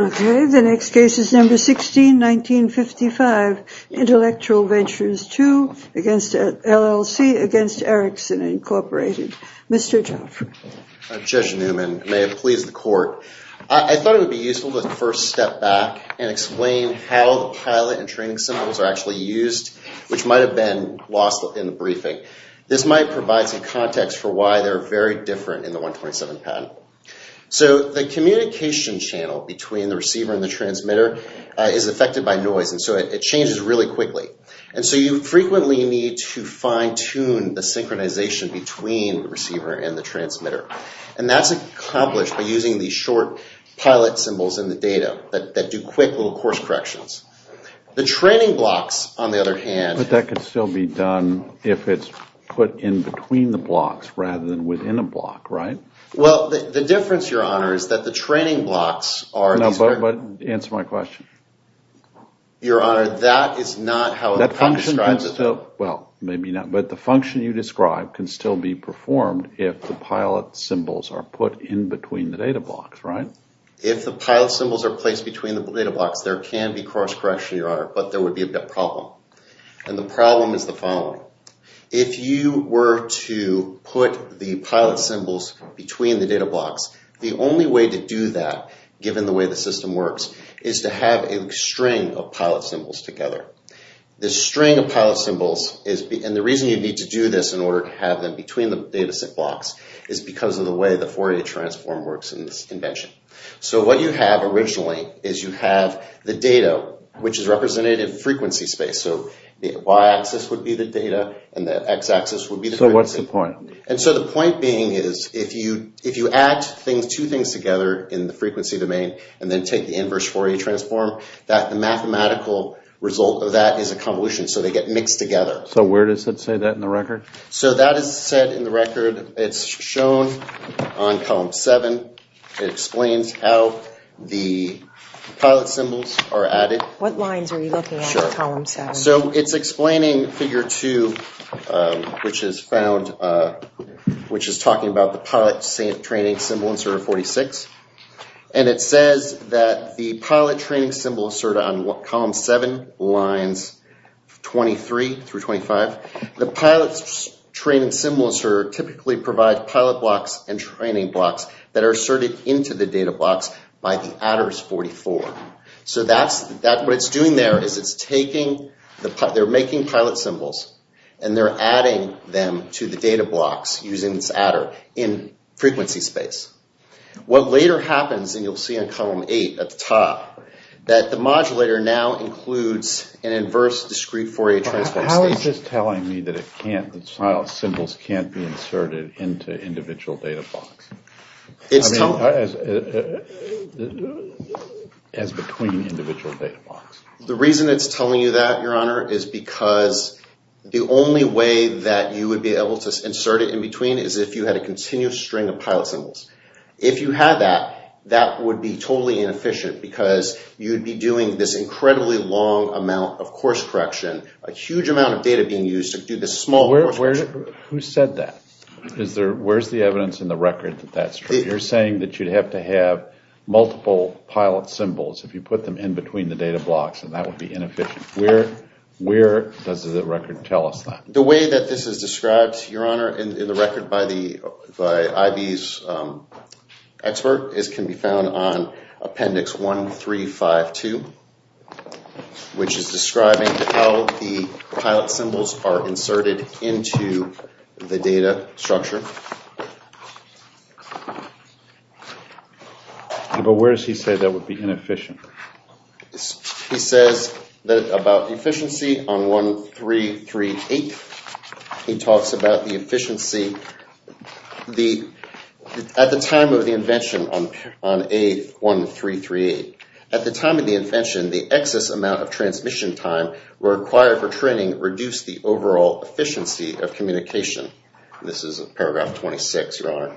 Okay, the next case is number 16-1955. Intellectual Ventures II LLC against Ericsson Incorporated. Mr. Joffrey. Judge Newman, may it please the court. I thought it would be useful to first step back and explain how the pilot and training symbols are actually used, which might have been lost in the briefing. This might provide some context for why they're very different in the 127 patent. So the communication channel between the receivers really quickly. And so you frequently need to fine-tune the synchronization between the receiver and the transmitter. And that's accomplished by using these short pilot symbols in the data that do quick little course corrections. The training blocks, on the other hand... But that could still be done if it's put in between the blocks rather than within a block, right? Well, the difference, Your Honor, is that the training blocks are... No, but answer my question. Your Honor, that is not how... That function can still... Well, maybe not. But the function you described can still be performed if the pilot symbols are put in between the data blocks, right? If the pilot symbols are placed between the data blocks, there can be course correction, Your Honor, but there would be a problem. And the problem is the following. If you were to put the pilot symbols between the data blocks, the only way to do that, given the way the system works, is to have a string of pilot symbols together. The string of pilot symbols is... And the reason you need to do this in order to have them between the data set blocks is because of the way the Fourier transform works in this invention. So what you have originally is you have the data, which is represented in frequency space. So the y- axis would be the data and the x-axis would be the frequency. So what's the point? And so the two things together in the frequency domain, and then take the inverse Fourier transform, that the mathematical result of that is a convolution. So they get mixed together. So where does it say that in the record? So that is said in the record. It's shown on column 7. It explains how the pilot symbols are added. What lines are you looking at in column 7? So it's explaining figure 2, which is found, which is talking about the pilot training symbol inserter 46. And it says that the pilot training symbol inserter on what column 7 lines 23 through 25, the pilot's training symbols are typically provide pilot blocks and training blocks that are asserted into the data blocks by the adders 44. So that's that what it's doing there is it's taking the pilot, they're making pilot symbols, and they're adding them to the data blocks using this adder in frequency space. What later happens, and you'll see in column 8 at the top, that the modulator now includes an inverse discrete Fourier transform. How is this telling me that it can't, that the pilot symbols can't be inserted into individual data blocks? It's telling me. As between individual data blocks? The reason it's telling you that, your honor, is because the only way that you would be able to insert it in between is if you had a continuous string of pilot symbols. If you had that, that would be totally inefficient because you'd be doing this incredibly long amount of course correction, a huge amount of data being used to do this small course correction. Who said that? Where's the evidence in the record that that's true? You're saying that you'd have to have multiple pilot symbols if you put them in between the data blocks and that would be inefficient. Where does the record tell us that? The way that this is described, your honor, in the record by IB's expert, can be found on appendix 1352, which is describing how the pilot symbols are inserted into the data structure. But where does he say that would be inefficient? He says that about efficiency on 1338, he talks about the efficiency at the time of the invention on A1338. At the time of the invention, the excess amount of transmission time required for training reduced the overall efficiency of communication. This is paragraph 26, your honor.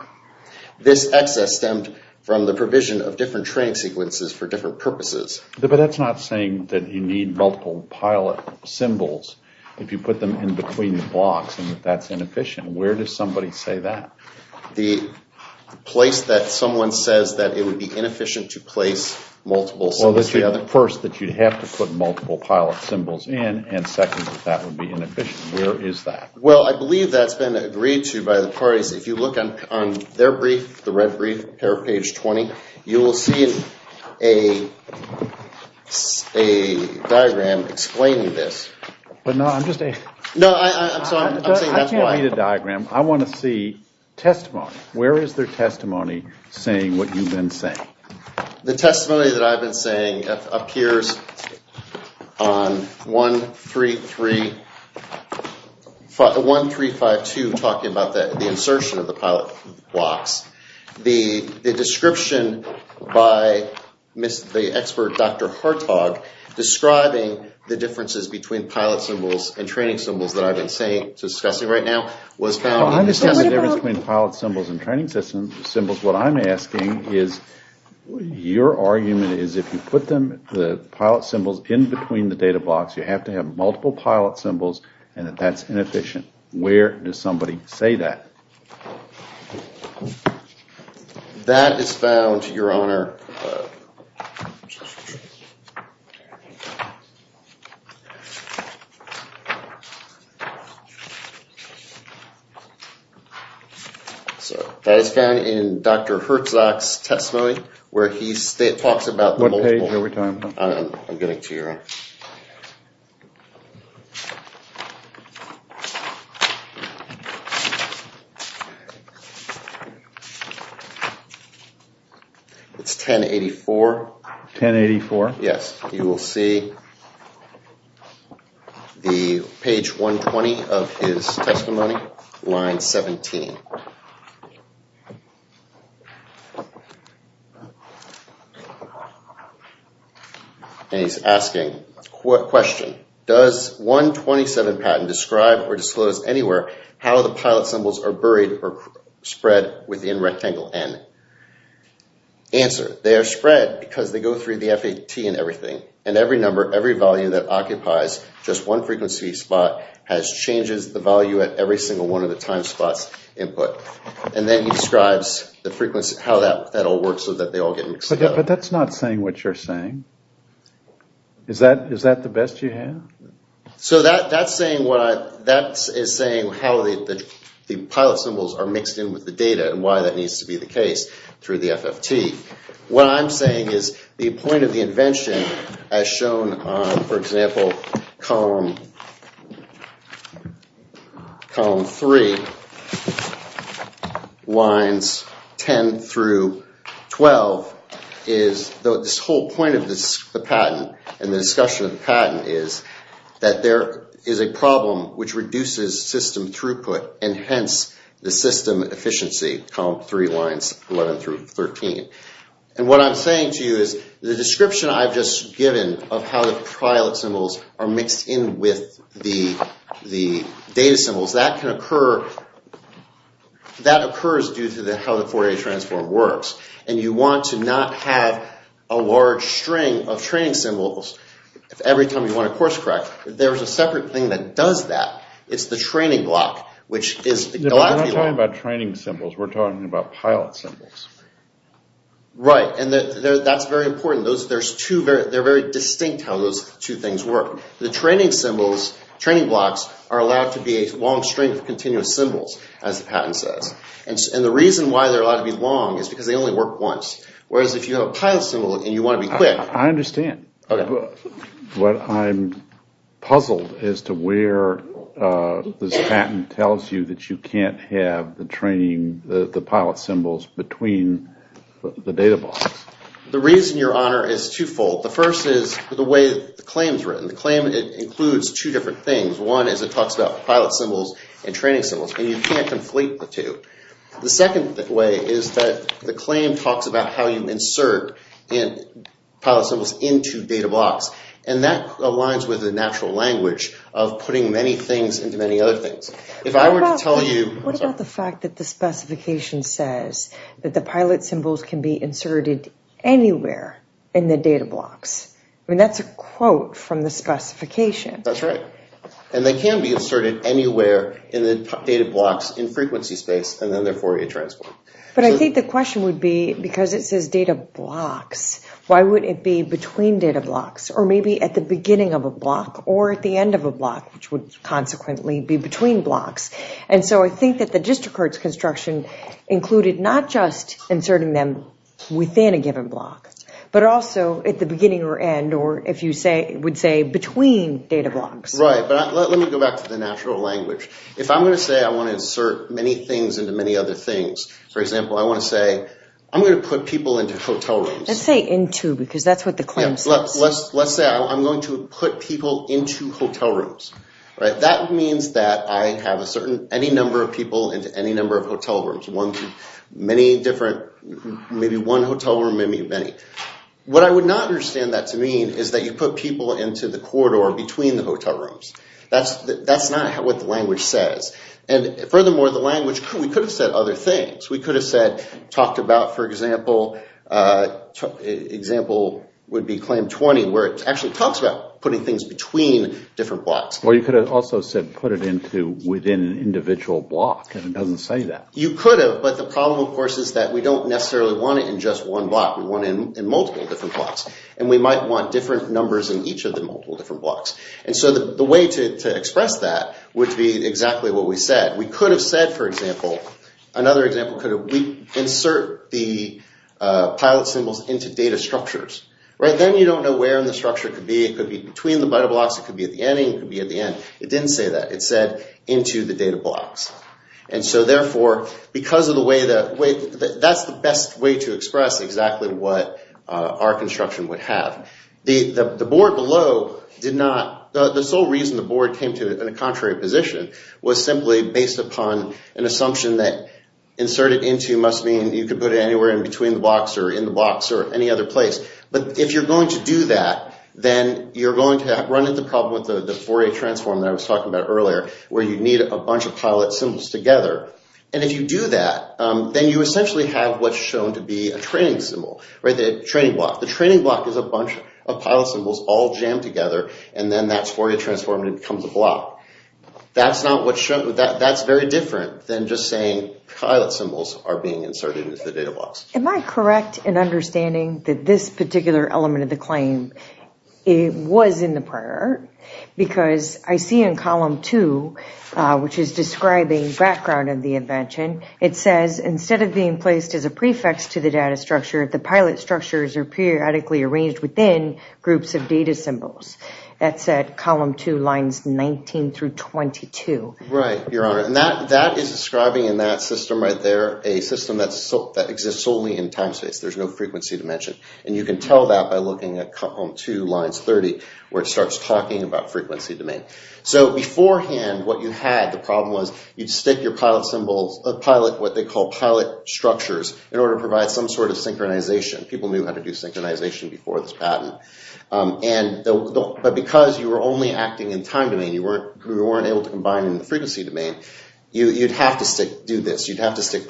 This excess stemmed from the provision of different training sequences for different purposes. But that's not saying that you need multiple pilot symbols if you put them in between the blocks and that's inefficient. Where does somebody say that? The place that someone says that it would be inefficient to place multiple symbols is the other. First, that you'd have to put multiple pilot symbols in and second, that that would be inefficient. Where is that? Well, I believe that's been agreed to by the parties. If you look on their brief, the red brief, paragraph page 20, you will see a diagram explaining this. I can't read a diagram. I want to see testimony. Where is their testimony saying what you've been saying? The testimony that I've been saying appears on 1352, talking about the insertion of the pilot blocks. The description by the expert, Dr. Hartog, describing the differences between pilot symbols and training symbols that I've been saying, discussing right now, was found in the testimony. The difference between pilot symbols and training symbols, what I'm asking is your argument is if you put the pilot symbols in between the data blocks, you have to have multiple pilot symbols and that that's inefficient. Where does somebody say that? That is found, Your Honor. That is found in Dr. Hartog's testimony where he talks about the multiple. I'm getting to your end. It's 1084. Yes. You will see the page 120 of his testimony, line 17. And he's asking, what question does 127 patent describe or disclose anywhere how the pilot symbols are buried or spread within rectangle N? Answer. They are spread because they go through the FAT and everything and every number, every volume that occupies just one frequency spot has changes the value at every single one of the time spots involved. But that's not saying what you're saying. Is that the best you have? So that's saying how the pilot symbols are mixed in with the data and why that needs to be the case through the FFT. What I'm saying is the point of the invention, as shown on, for example, column three, lines 10 through 12, is this whole point of the patent and the discussion of the patent is that there is a problem which reduces system throughput and hence the system efficiency, column three lines 11 through 13. And what I'm saying to you is the description I've just given of how the pilot symbols are mixed in with the data symbols, that can occur, that occurs due to how the Fourier transform works. And you want to not have a large string of training symbols every time you want to course correct. There's a separate thing that does that. It's the training block. We're not talking about training symbols. We're talking about pilot symbols. Right. And that's very important. They're very distinct how those two things work. The training symbols, training blocks, are allowed to be a long string of continuous symbols, as the patent says. And the reason why they're allowed to be long is because they only work once. Whereas if you have a pilot symbol and you want to be quick... I understand. But I'm puzzled as to where this patent tells you that you can't have the pilot symbols between the data blocks. The reason, Your Honor, is twofold. The first is the way the claim is written. The claim includes two different things. One is it talks about pilot symbols and training symbols. And you can't conflate the two. The second way is that the claim talks about how you insert pilot symbols into data blocks. And that aligns with the natural language of putting many things into many other things. What about the fact that the specification says that the pilot symbols can be inserted anywhere in the data blocks? I mean, that's a quote from the specification. That's right. And they can be inserted anywhere in the data blocks in frequency space, and then therefore you transform. But I think the question would be, because it says data blocks, why would it be between data blocks? Or maybe at the beginning of a block, or at the end of a block, which would consequently be between blocks. And so I think that the district court's construction included not just inserting them within a given block, but also at the beginning or end, or if you would say between data blocks. Right. But let me go back to the natural language. If I'm going to say I want to insert many things into many other things, for example, I want to say, I'm going to put people into hotel rooms. Let's say into, because that's what the claim says. Let's say I'm going to put people into hotel rooms. That means that I have a certain, any number of people into any number of hotel rooms. Many different, maybe one hotel room, maybe many. What I would not understand that to mean is that you put people into the corridor between the hotel rooms. That's not what the language says. And furthermore, the language, we could have said other things. We could have said, talked about, for example, example would be claim 20, where it actually talks about putting things between different blocks. Well, you could have also said put it into within an individual block, and it doesn't say that. You could have, but the problem, of course, is that we don't necessarily want it in just one block. We want it in multiple different blocks. And we might want different numbers in each of the multiple different blocks. And so the way to express that would be exactly what we said. We could have said, for example, another example, could we insert the pilot symbols into data structures. Then you don't know where in the structure it could be. It could be between the meta blocks. It could be at the ending. It could be at the end. It didn't say that. It said into the data blocks. And so therefore, because of the way that, that's the best way to express exactly what our construction would have. The board below did not, the sole reason the board came to a contrary position was simply based upon an assumption that inserted into must mean you could put it anywhere in between the blocks or in the blocks or any other place. But if you're going to do that, then you're going to run into the problem with the Fourier transform that I was talking about earlier, where you need a bunch of pilot symbols together. And if you do that, then you essentially have what's shown to be a training symbol, right, the training block. The training block is a bunch of pilot symbols all jammed together, and then that's Fourier transform and it becomes a block. That's not what, that's very different than just saying pilot symbols are being inserted into the data blocks. Am I correct in understanding that this particular element of the claim was in the prior? Because I see in column two, which is describing background of the invention, it says instead of being placed as a prefix to the data structure, the pilot structures are periodically arranged within groups of data symbols. That's at column two lines 19 through 22. Right, your honor, and that is describing in that system right there a system that exists solely in time space. There's no frequency dimension. And you can tell that by looking at column two lines 30, where it starts talking about frequency domain. So beforehand, what you had, the problem was you'd stick your pilot symbols, what they call pilot structures, in order to provide some sort of synchronization. People knew how to do synchronization before this patent. But because you were only acting in time domain, you weren't able to combine in the frequency domain, you'd have to stick, do this. You'd have to stick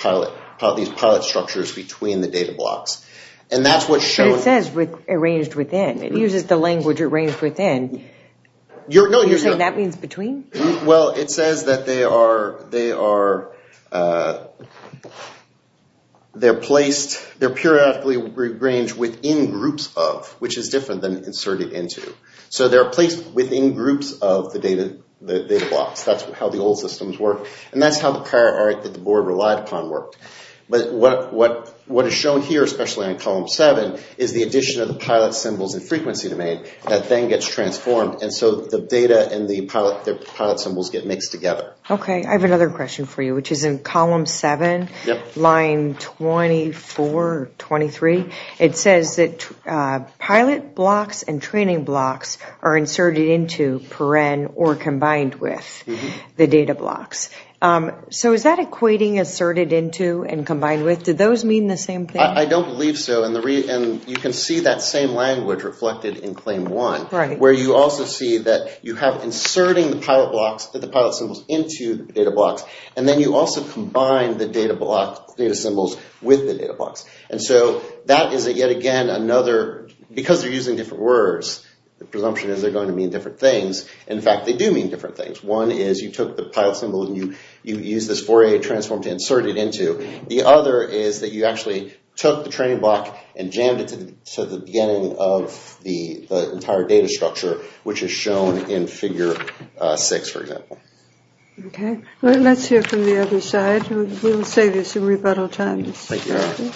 these pilot structures between the data blocks. And that's what shows. It says arranged within. It uses the language arranged within. You're saying that means between? Well, it says that they are placed, they're periodically arranged within groups of, which is different than inserted into. So they're placed within groups of the data blocks. That's how the old systems work. And that's how the prior art that the board relied upon worked. But what is shown here, especially on column seven, is the addition of the pilot symbols and frequency domain that then gets transformed. And so the data and the pilot symbols get mixed together. Okay. I have another question for you, which is in column seven, line 24, 23. It says that pilot blocks and training blocks are inserted into, per-en, or combined with the data blocks. So is that equating asserted into and combined with? Do those mean the same thing? I don't believe so. And you can see that same language reflected in claim one. Right. Where you also see that you have inserting the pilot blocks, the pilot symbols, into the data blocks. And then you also combine the data blocks, data symbols, with the data blocks. And so that is, yet again, another, because they're using different words, the presumption is they're going to mean different things. In fact, they do mean different things. One is you took the pilot symbol and you used this Fourier transform to insert it into. The other is that you actually took the training block and jammed it to the beginning of the entire data structure, which is shown in figure six, for example. Okay. Let's hear from the other side. We will save you some rebuttal time. Thank you.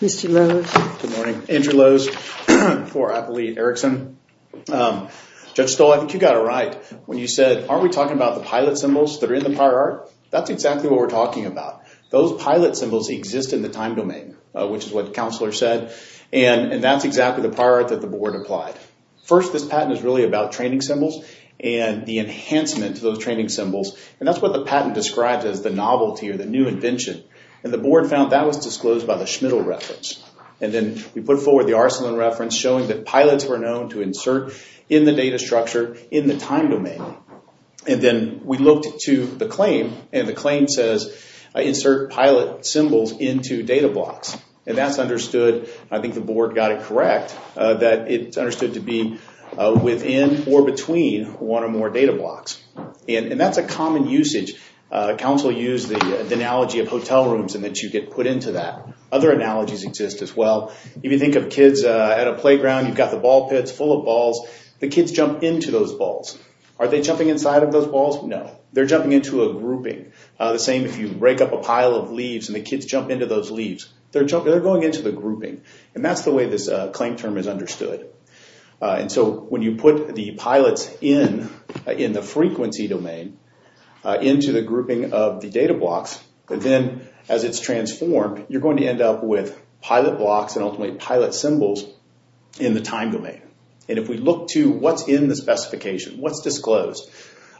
Mr. Lowe. Good morning. Andrew Lowe for Appellate Erickson. Judge Stoll, I think you got it right when you said, aren't we talking about the pilot symbols that are in the prior art? That's exactly what we're talking about. Those pilot symbols exist in the time domain, which is what the counselor said. And that's exactly the prior art that the board applied. First, this patent is really about training symbols and the enhancement to those training symbols. And that's what the patent describes as the novelty or the new invention. And the board found that was disclosed by the Schmidl reference. And then we put forward the Arsalan reference, showing that pilots were known to insert in the data structure in the time domain. And then we looked to the claim, and the claim says, insert pilot symbols into data blocks. And that's understood. I think the board got it correct that it's understood to be within or between one or more data blocks. And that's a common usage. Counselors use the analogy of hotel rooms and that you get put into that. Other analogies exist as well. If you think of kids at a playground, you've got the ball pits full of balls. The kids jump into those balls. Are they jumping inside of those balls? No. They're jumping into a grouping. The same if you break up a pile of leaves and the kids jump into those leaves. They're going into the grouping. And that's the way this claim term is understood. And so when you put the pilots in, in the frequency domain, into the grouping of the data blocks, and then as it's transformed, you're going to end up with pilot blocks and ultimately pilot symbols in the time domain. And if we look to what's in the specification, what's disclosed,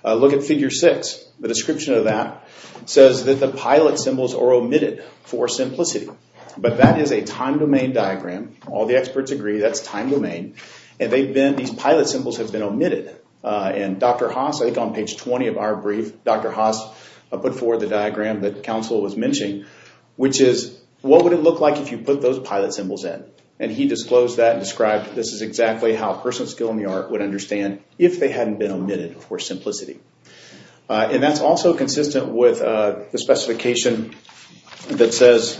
look at Figure 6. The description of that says that the pilot symbols are omitted for simplicity. But that is a time domain diagram. All the experts agree that's time domain. And these pilot symbols have been omitted. And Dr. Haas, I think on page 20 of our brief, Dr. Haas put forward the diagram that counsel was mentioning, which is what would it look like if you put those pilot symbols in? And he disclosed that and described this is exactly how a person with skill in the art would understand if they hadn't been omitted for simplicity. And that's also consistent with the specification that says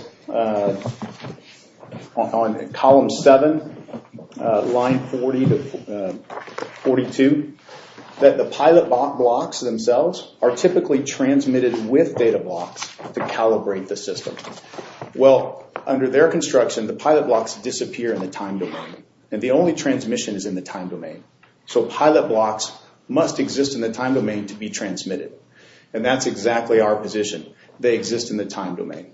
on column 7, line 42, that the pilot blocks themselves are typically transmitted with data blocks to calibrate the system. Well, under their construction, the pilot blocks disappear in the time domain. And the only transmission is in the time domain. So pilot blocks must exist in the time domain to be transmitted. And that's exactly our position. They exist in the time domain.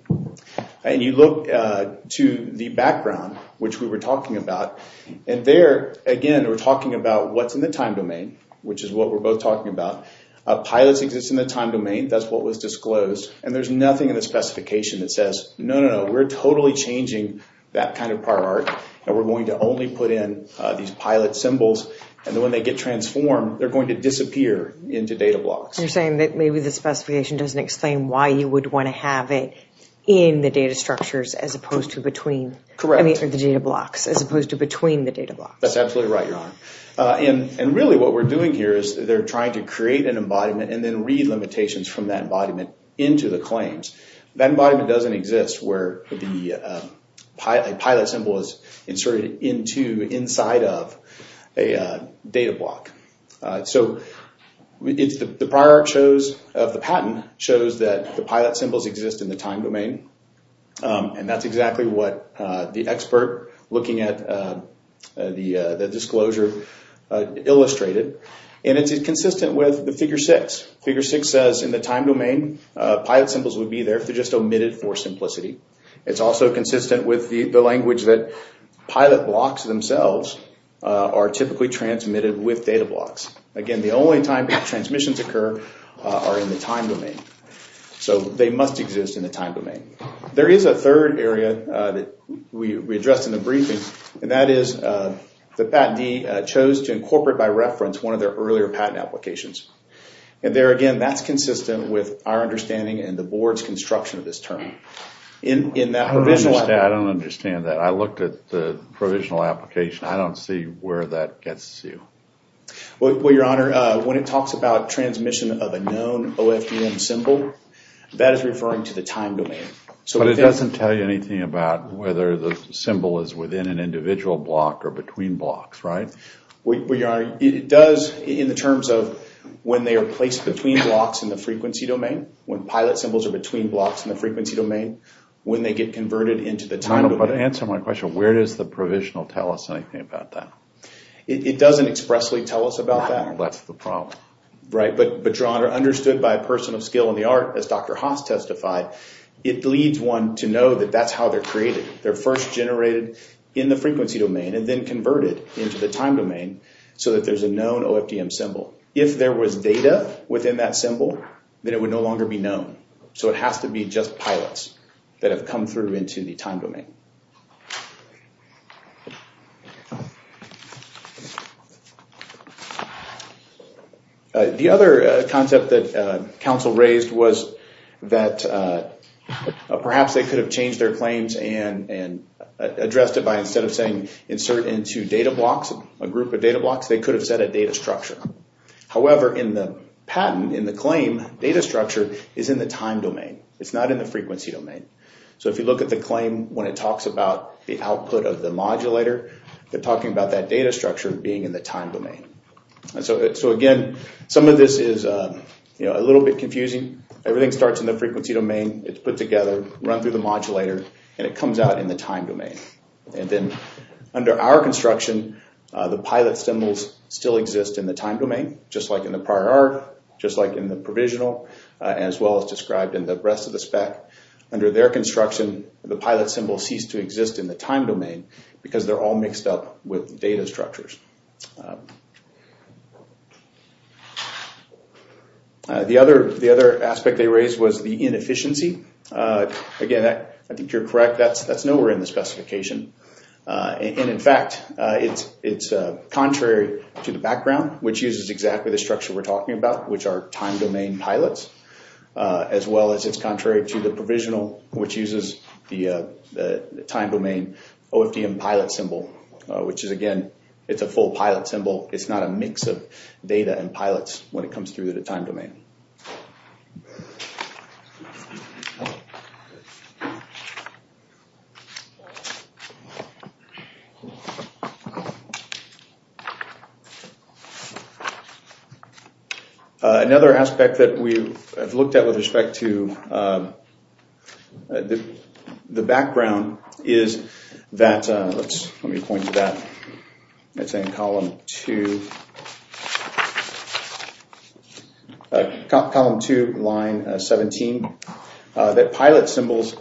And you look to the background, which we were talking about. And there, again, we're talking about what's in the time domain, which is what we're both talking about. Pilots exist in the time domain. That's what was disclosed. And there's nothing in the specification that says, no, no, no, we're totally changing that kind of prior art. And we're going to only put in these pilot symbols. And then when they get transformed, they're going to disappear into data blocks. You're saying that maybe the specification doesn't explain why you would want to have it in the data structures as opposed to between. Correct. I mean, the data blocks as opposed to between the data blocks. That's absolutely right, Your Honor. And really what we're doing here is they're trying to create an embodiment and then read limitations from that embodiment into the claims. That embodiment doesn't exist where a pilot symbol is inserted inside of a data block. So the prior art shows of the patent shows that the pilot symbols exist in the time domain. And that's exactly what the expert looking at the disclosure illustrated. And it's consistent with the figure six. Figure six says in the time domain, pilot symbols would be there if they're just omitted for simplicity. It's also consistent with the language that pilot blocks themselves are typically transmitted with data blocks. Again, the only time that transmissions occur are in the time domain. So they must exist in the time domain. There is a third area that we addressed in the briefing. And that is the patentee chose to incorporate by reference one of their earlier patent applications. And there again, that's consistent with our understanding and the board's construction of this term. I don't understand that. I looked at the provisional application. I don't see where that gets you. Well, Your Honor, when it talks about transmission of a known OFDM symbol, that is referring to the time domain. But it doesn't tell you anything about whether the symbol is within an individual block or between blocks, right? It does in the terms of when they are placed between blocks in the frequency domain, when pilot symbols are between blocks in the frequency domain, when they get converted into the time domain. Answer my question. Where does the provisional tell us anything about that? It doesn't expressly tell us about that. That's the problem. Right. But, Your Honor, understood by a person of skill in the art, as Dr. Haas testified, it leads one to know that that's how they're created. They're first generated in the frequency domain and then converted into the time domain so that there's a known OFDM symbol. If there was data within that symbol, then it would no longer be known. So it has to be just pilots that have come through into the time domain. The other concept that counsel raised was that perhaps they could have changed their claims and addressed it by instead of saying insert into data blocks, a group of data blocks, they could have said a data structure. However, in the patent, in the claim, data structure is in the time domain. It's not in the frequency domain. So if you look at the claim, when it talks about the output of the modulator, they're talking about that data structure being in the time domain. So, again, some of this is a little bit confusing. Everything starts in the frequency domain. It's put together, run through the modulator, and it comes out in the time domain. And then under our construction, the pilot symbols still exist in the time domain, just like in the prior art, just like in the provisional, as well as described in the rest of the spec. Under their construction, the pilot symbol ceased to exist in the time domain because they're all mixed up with data structures. The other aspect they raised was the inefficiency. Again, I think you're correct. That's nowhere in the specification. In fact, it's contrary to the background, which uses exactly the structure we're talking about, which are time domain pilots, as well as it's contrary to the provisional, which uses the time domain OFDM pilot symbol, which is, again, it's a full pilot symbol. It's not a mix of data and pilots when it comes through the time domain. Another aspect that we have looked at with respect to the background is that—let me point to that. It's in column 2, line 17, that pilot symbols,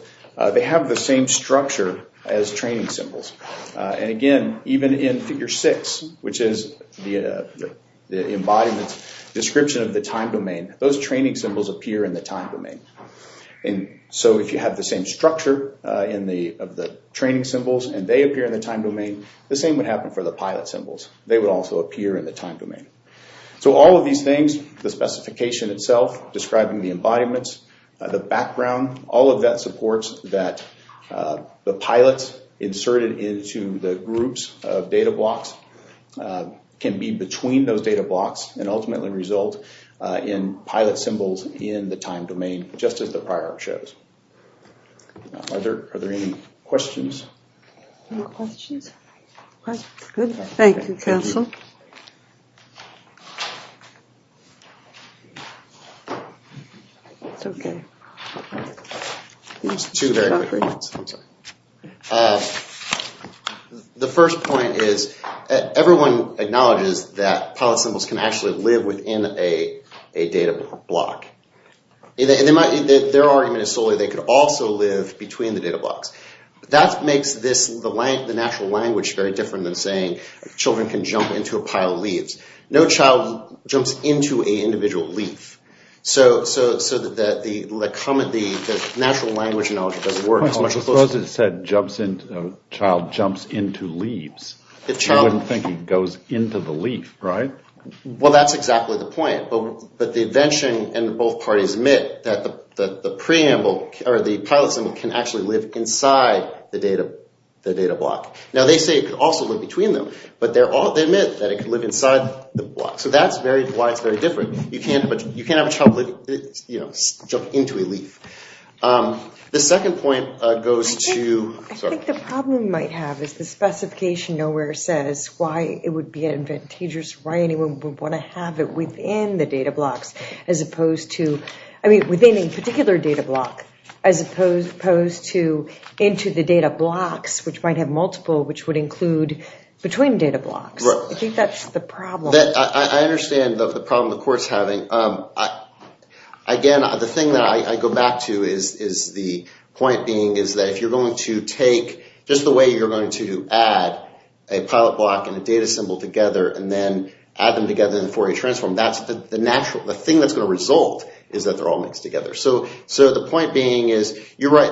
they have the same structure as training symbols. And again, even in figure 6, which is the embodiment description of the time domain, those training symbols appear in the time domain. If you have the same structure of the training symbols and they appear in the time domain, the same would happen for the pilot symbols. They would also appear in the time domain. So all of these things, the specification itself, describing the embodiments, the background, all of that supports that the pilots inserted into the groups of data blocks can be between those data blocks and ultimately result in pilot symbols in the time domain, just as the prior shows. Are there any questions? Any questions? Good. Thank you, counsel. The first point is everyone acknowledges that pilot symbols can actually live within a data block. Their argument is solely they could also live between the data blocks. That makes the natural language very different than saying children can jump into a pile of leaves. No child jumps into an individual leaf. So the natural language doesn't work as much. Suppose it said child jumps into leaves. You wouldn't think he goes into the leaf, right? Well, that's exactly the point. But the invention and both parties admit that the pilot symbol can actually live inside the data block. Now, they say it could also live between them, but they admit that it could live inside the block. So that's why it's very different. You can't have a child jump into a leaf. The second point goes to... I think the problem we might have is the specification nowhere says why it would be advantageous, why anyone would want to have it within the data blocks as opposed to... I mean, within a particular data block as opposed to into the data blocks, which might have multiple, which would include between data blocks. I think that's the problem. I understand the problem the court's having. Again, the thing that I go back to is the point being, is that if you're going to take just the way you're going to add a pilot block and a data symbol together and then add them together in a Fourier transform, the thing that's going to result is that they're all mixed together. So the point being is you're right.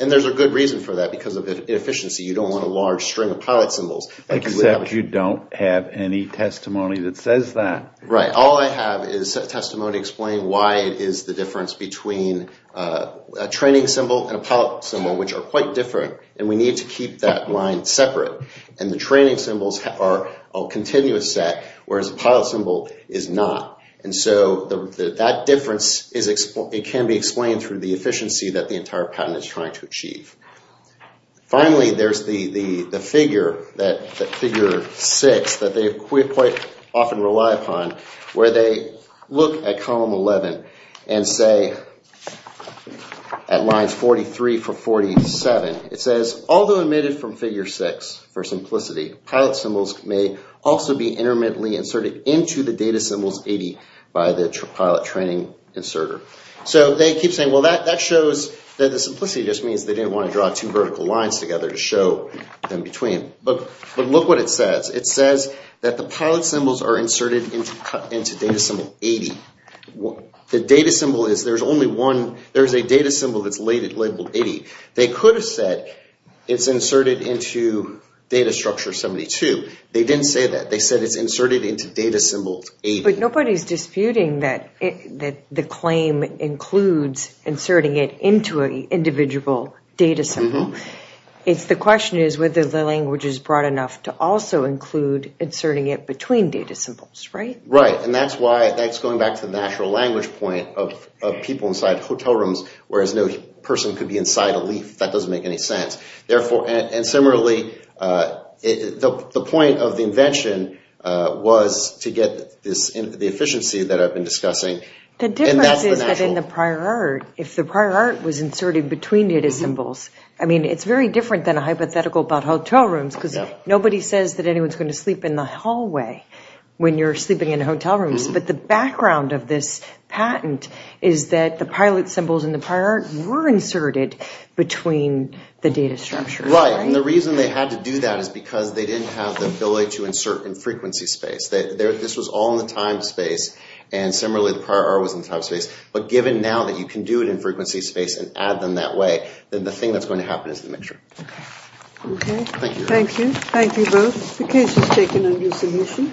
And there's a good reason for that. Because of inefficiency, you don't want a large string of pilot symbols. Except you don't have any testimony that says that. Right. All I have is testimony explaining why it is the difference between a training symbol and a pilot symbol, which are quite different, and we need to keep that line separate. And the training symbols are a continuous set, whereas the pilot symbol is not. And so that difference can be explained through the efficiency that the entire patent is trying to achieve. Finally, there's the figure, that figure 6, that they quite often rely upon, where they look at column 11 and say, at lines 43 through 47, it says, although omitted from figure 6 for simplicity, pilot symbols may also be intermittently inserted into the data symbols 80 by the pilot training inserter. So they keep saying, well, that shows that the simplicity just means they didn't want to draw two vertical lines together to show them between. But look what it says. It says that the pilot symbols are inserted into data symbol 80. The data symbol is, there's only one, there's a data symbol that's labeled 80. They could have said it's inserted into data structure 72. They didn't say that. They said it's inserted into data symbol 80. But nobody's disputing that the claim includes inserting it into an individual data symbol. The question is whether the language is broad enough to also include inserting it between data symbols, right? Right. And that's why, that's going back to the natural language point of people inside hotel rooms, whereas no person could be inside a leaf. That doesn't make any sense. And similarly, the point of the invention was to get the efficiency that I've been discussing. The difference is that in the prior art, if the prior art was inserted between data symbols, I mean, it's very different than a hypothetical about hotel rooms because nobody says that anyone's going to sleep in the hallway when you're sleeping in hotel rooms. But the background of this patent is that the pilot symbols in the prior art were inserted between the data structure. Right. And the reason they had to do that is because they didn't have the ability to insert in frequency space. This was all in the time space. And similarly, the prior art was in the time space. But given now that you can do it in frequency space and add them that way, then the thing that's going to happen is the mixture. Okay. Thank you. Thank you. Thank you both. The case is taken under submission.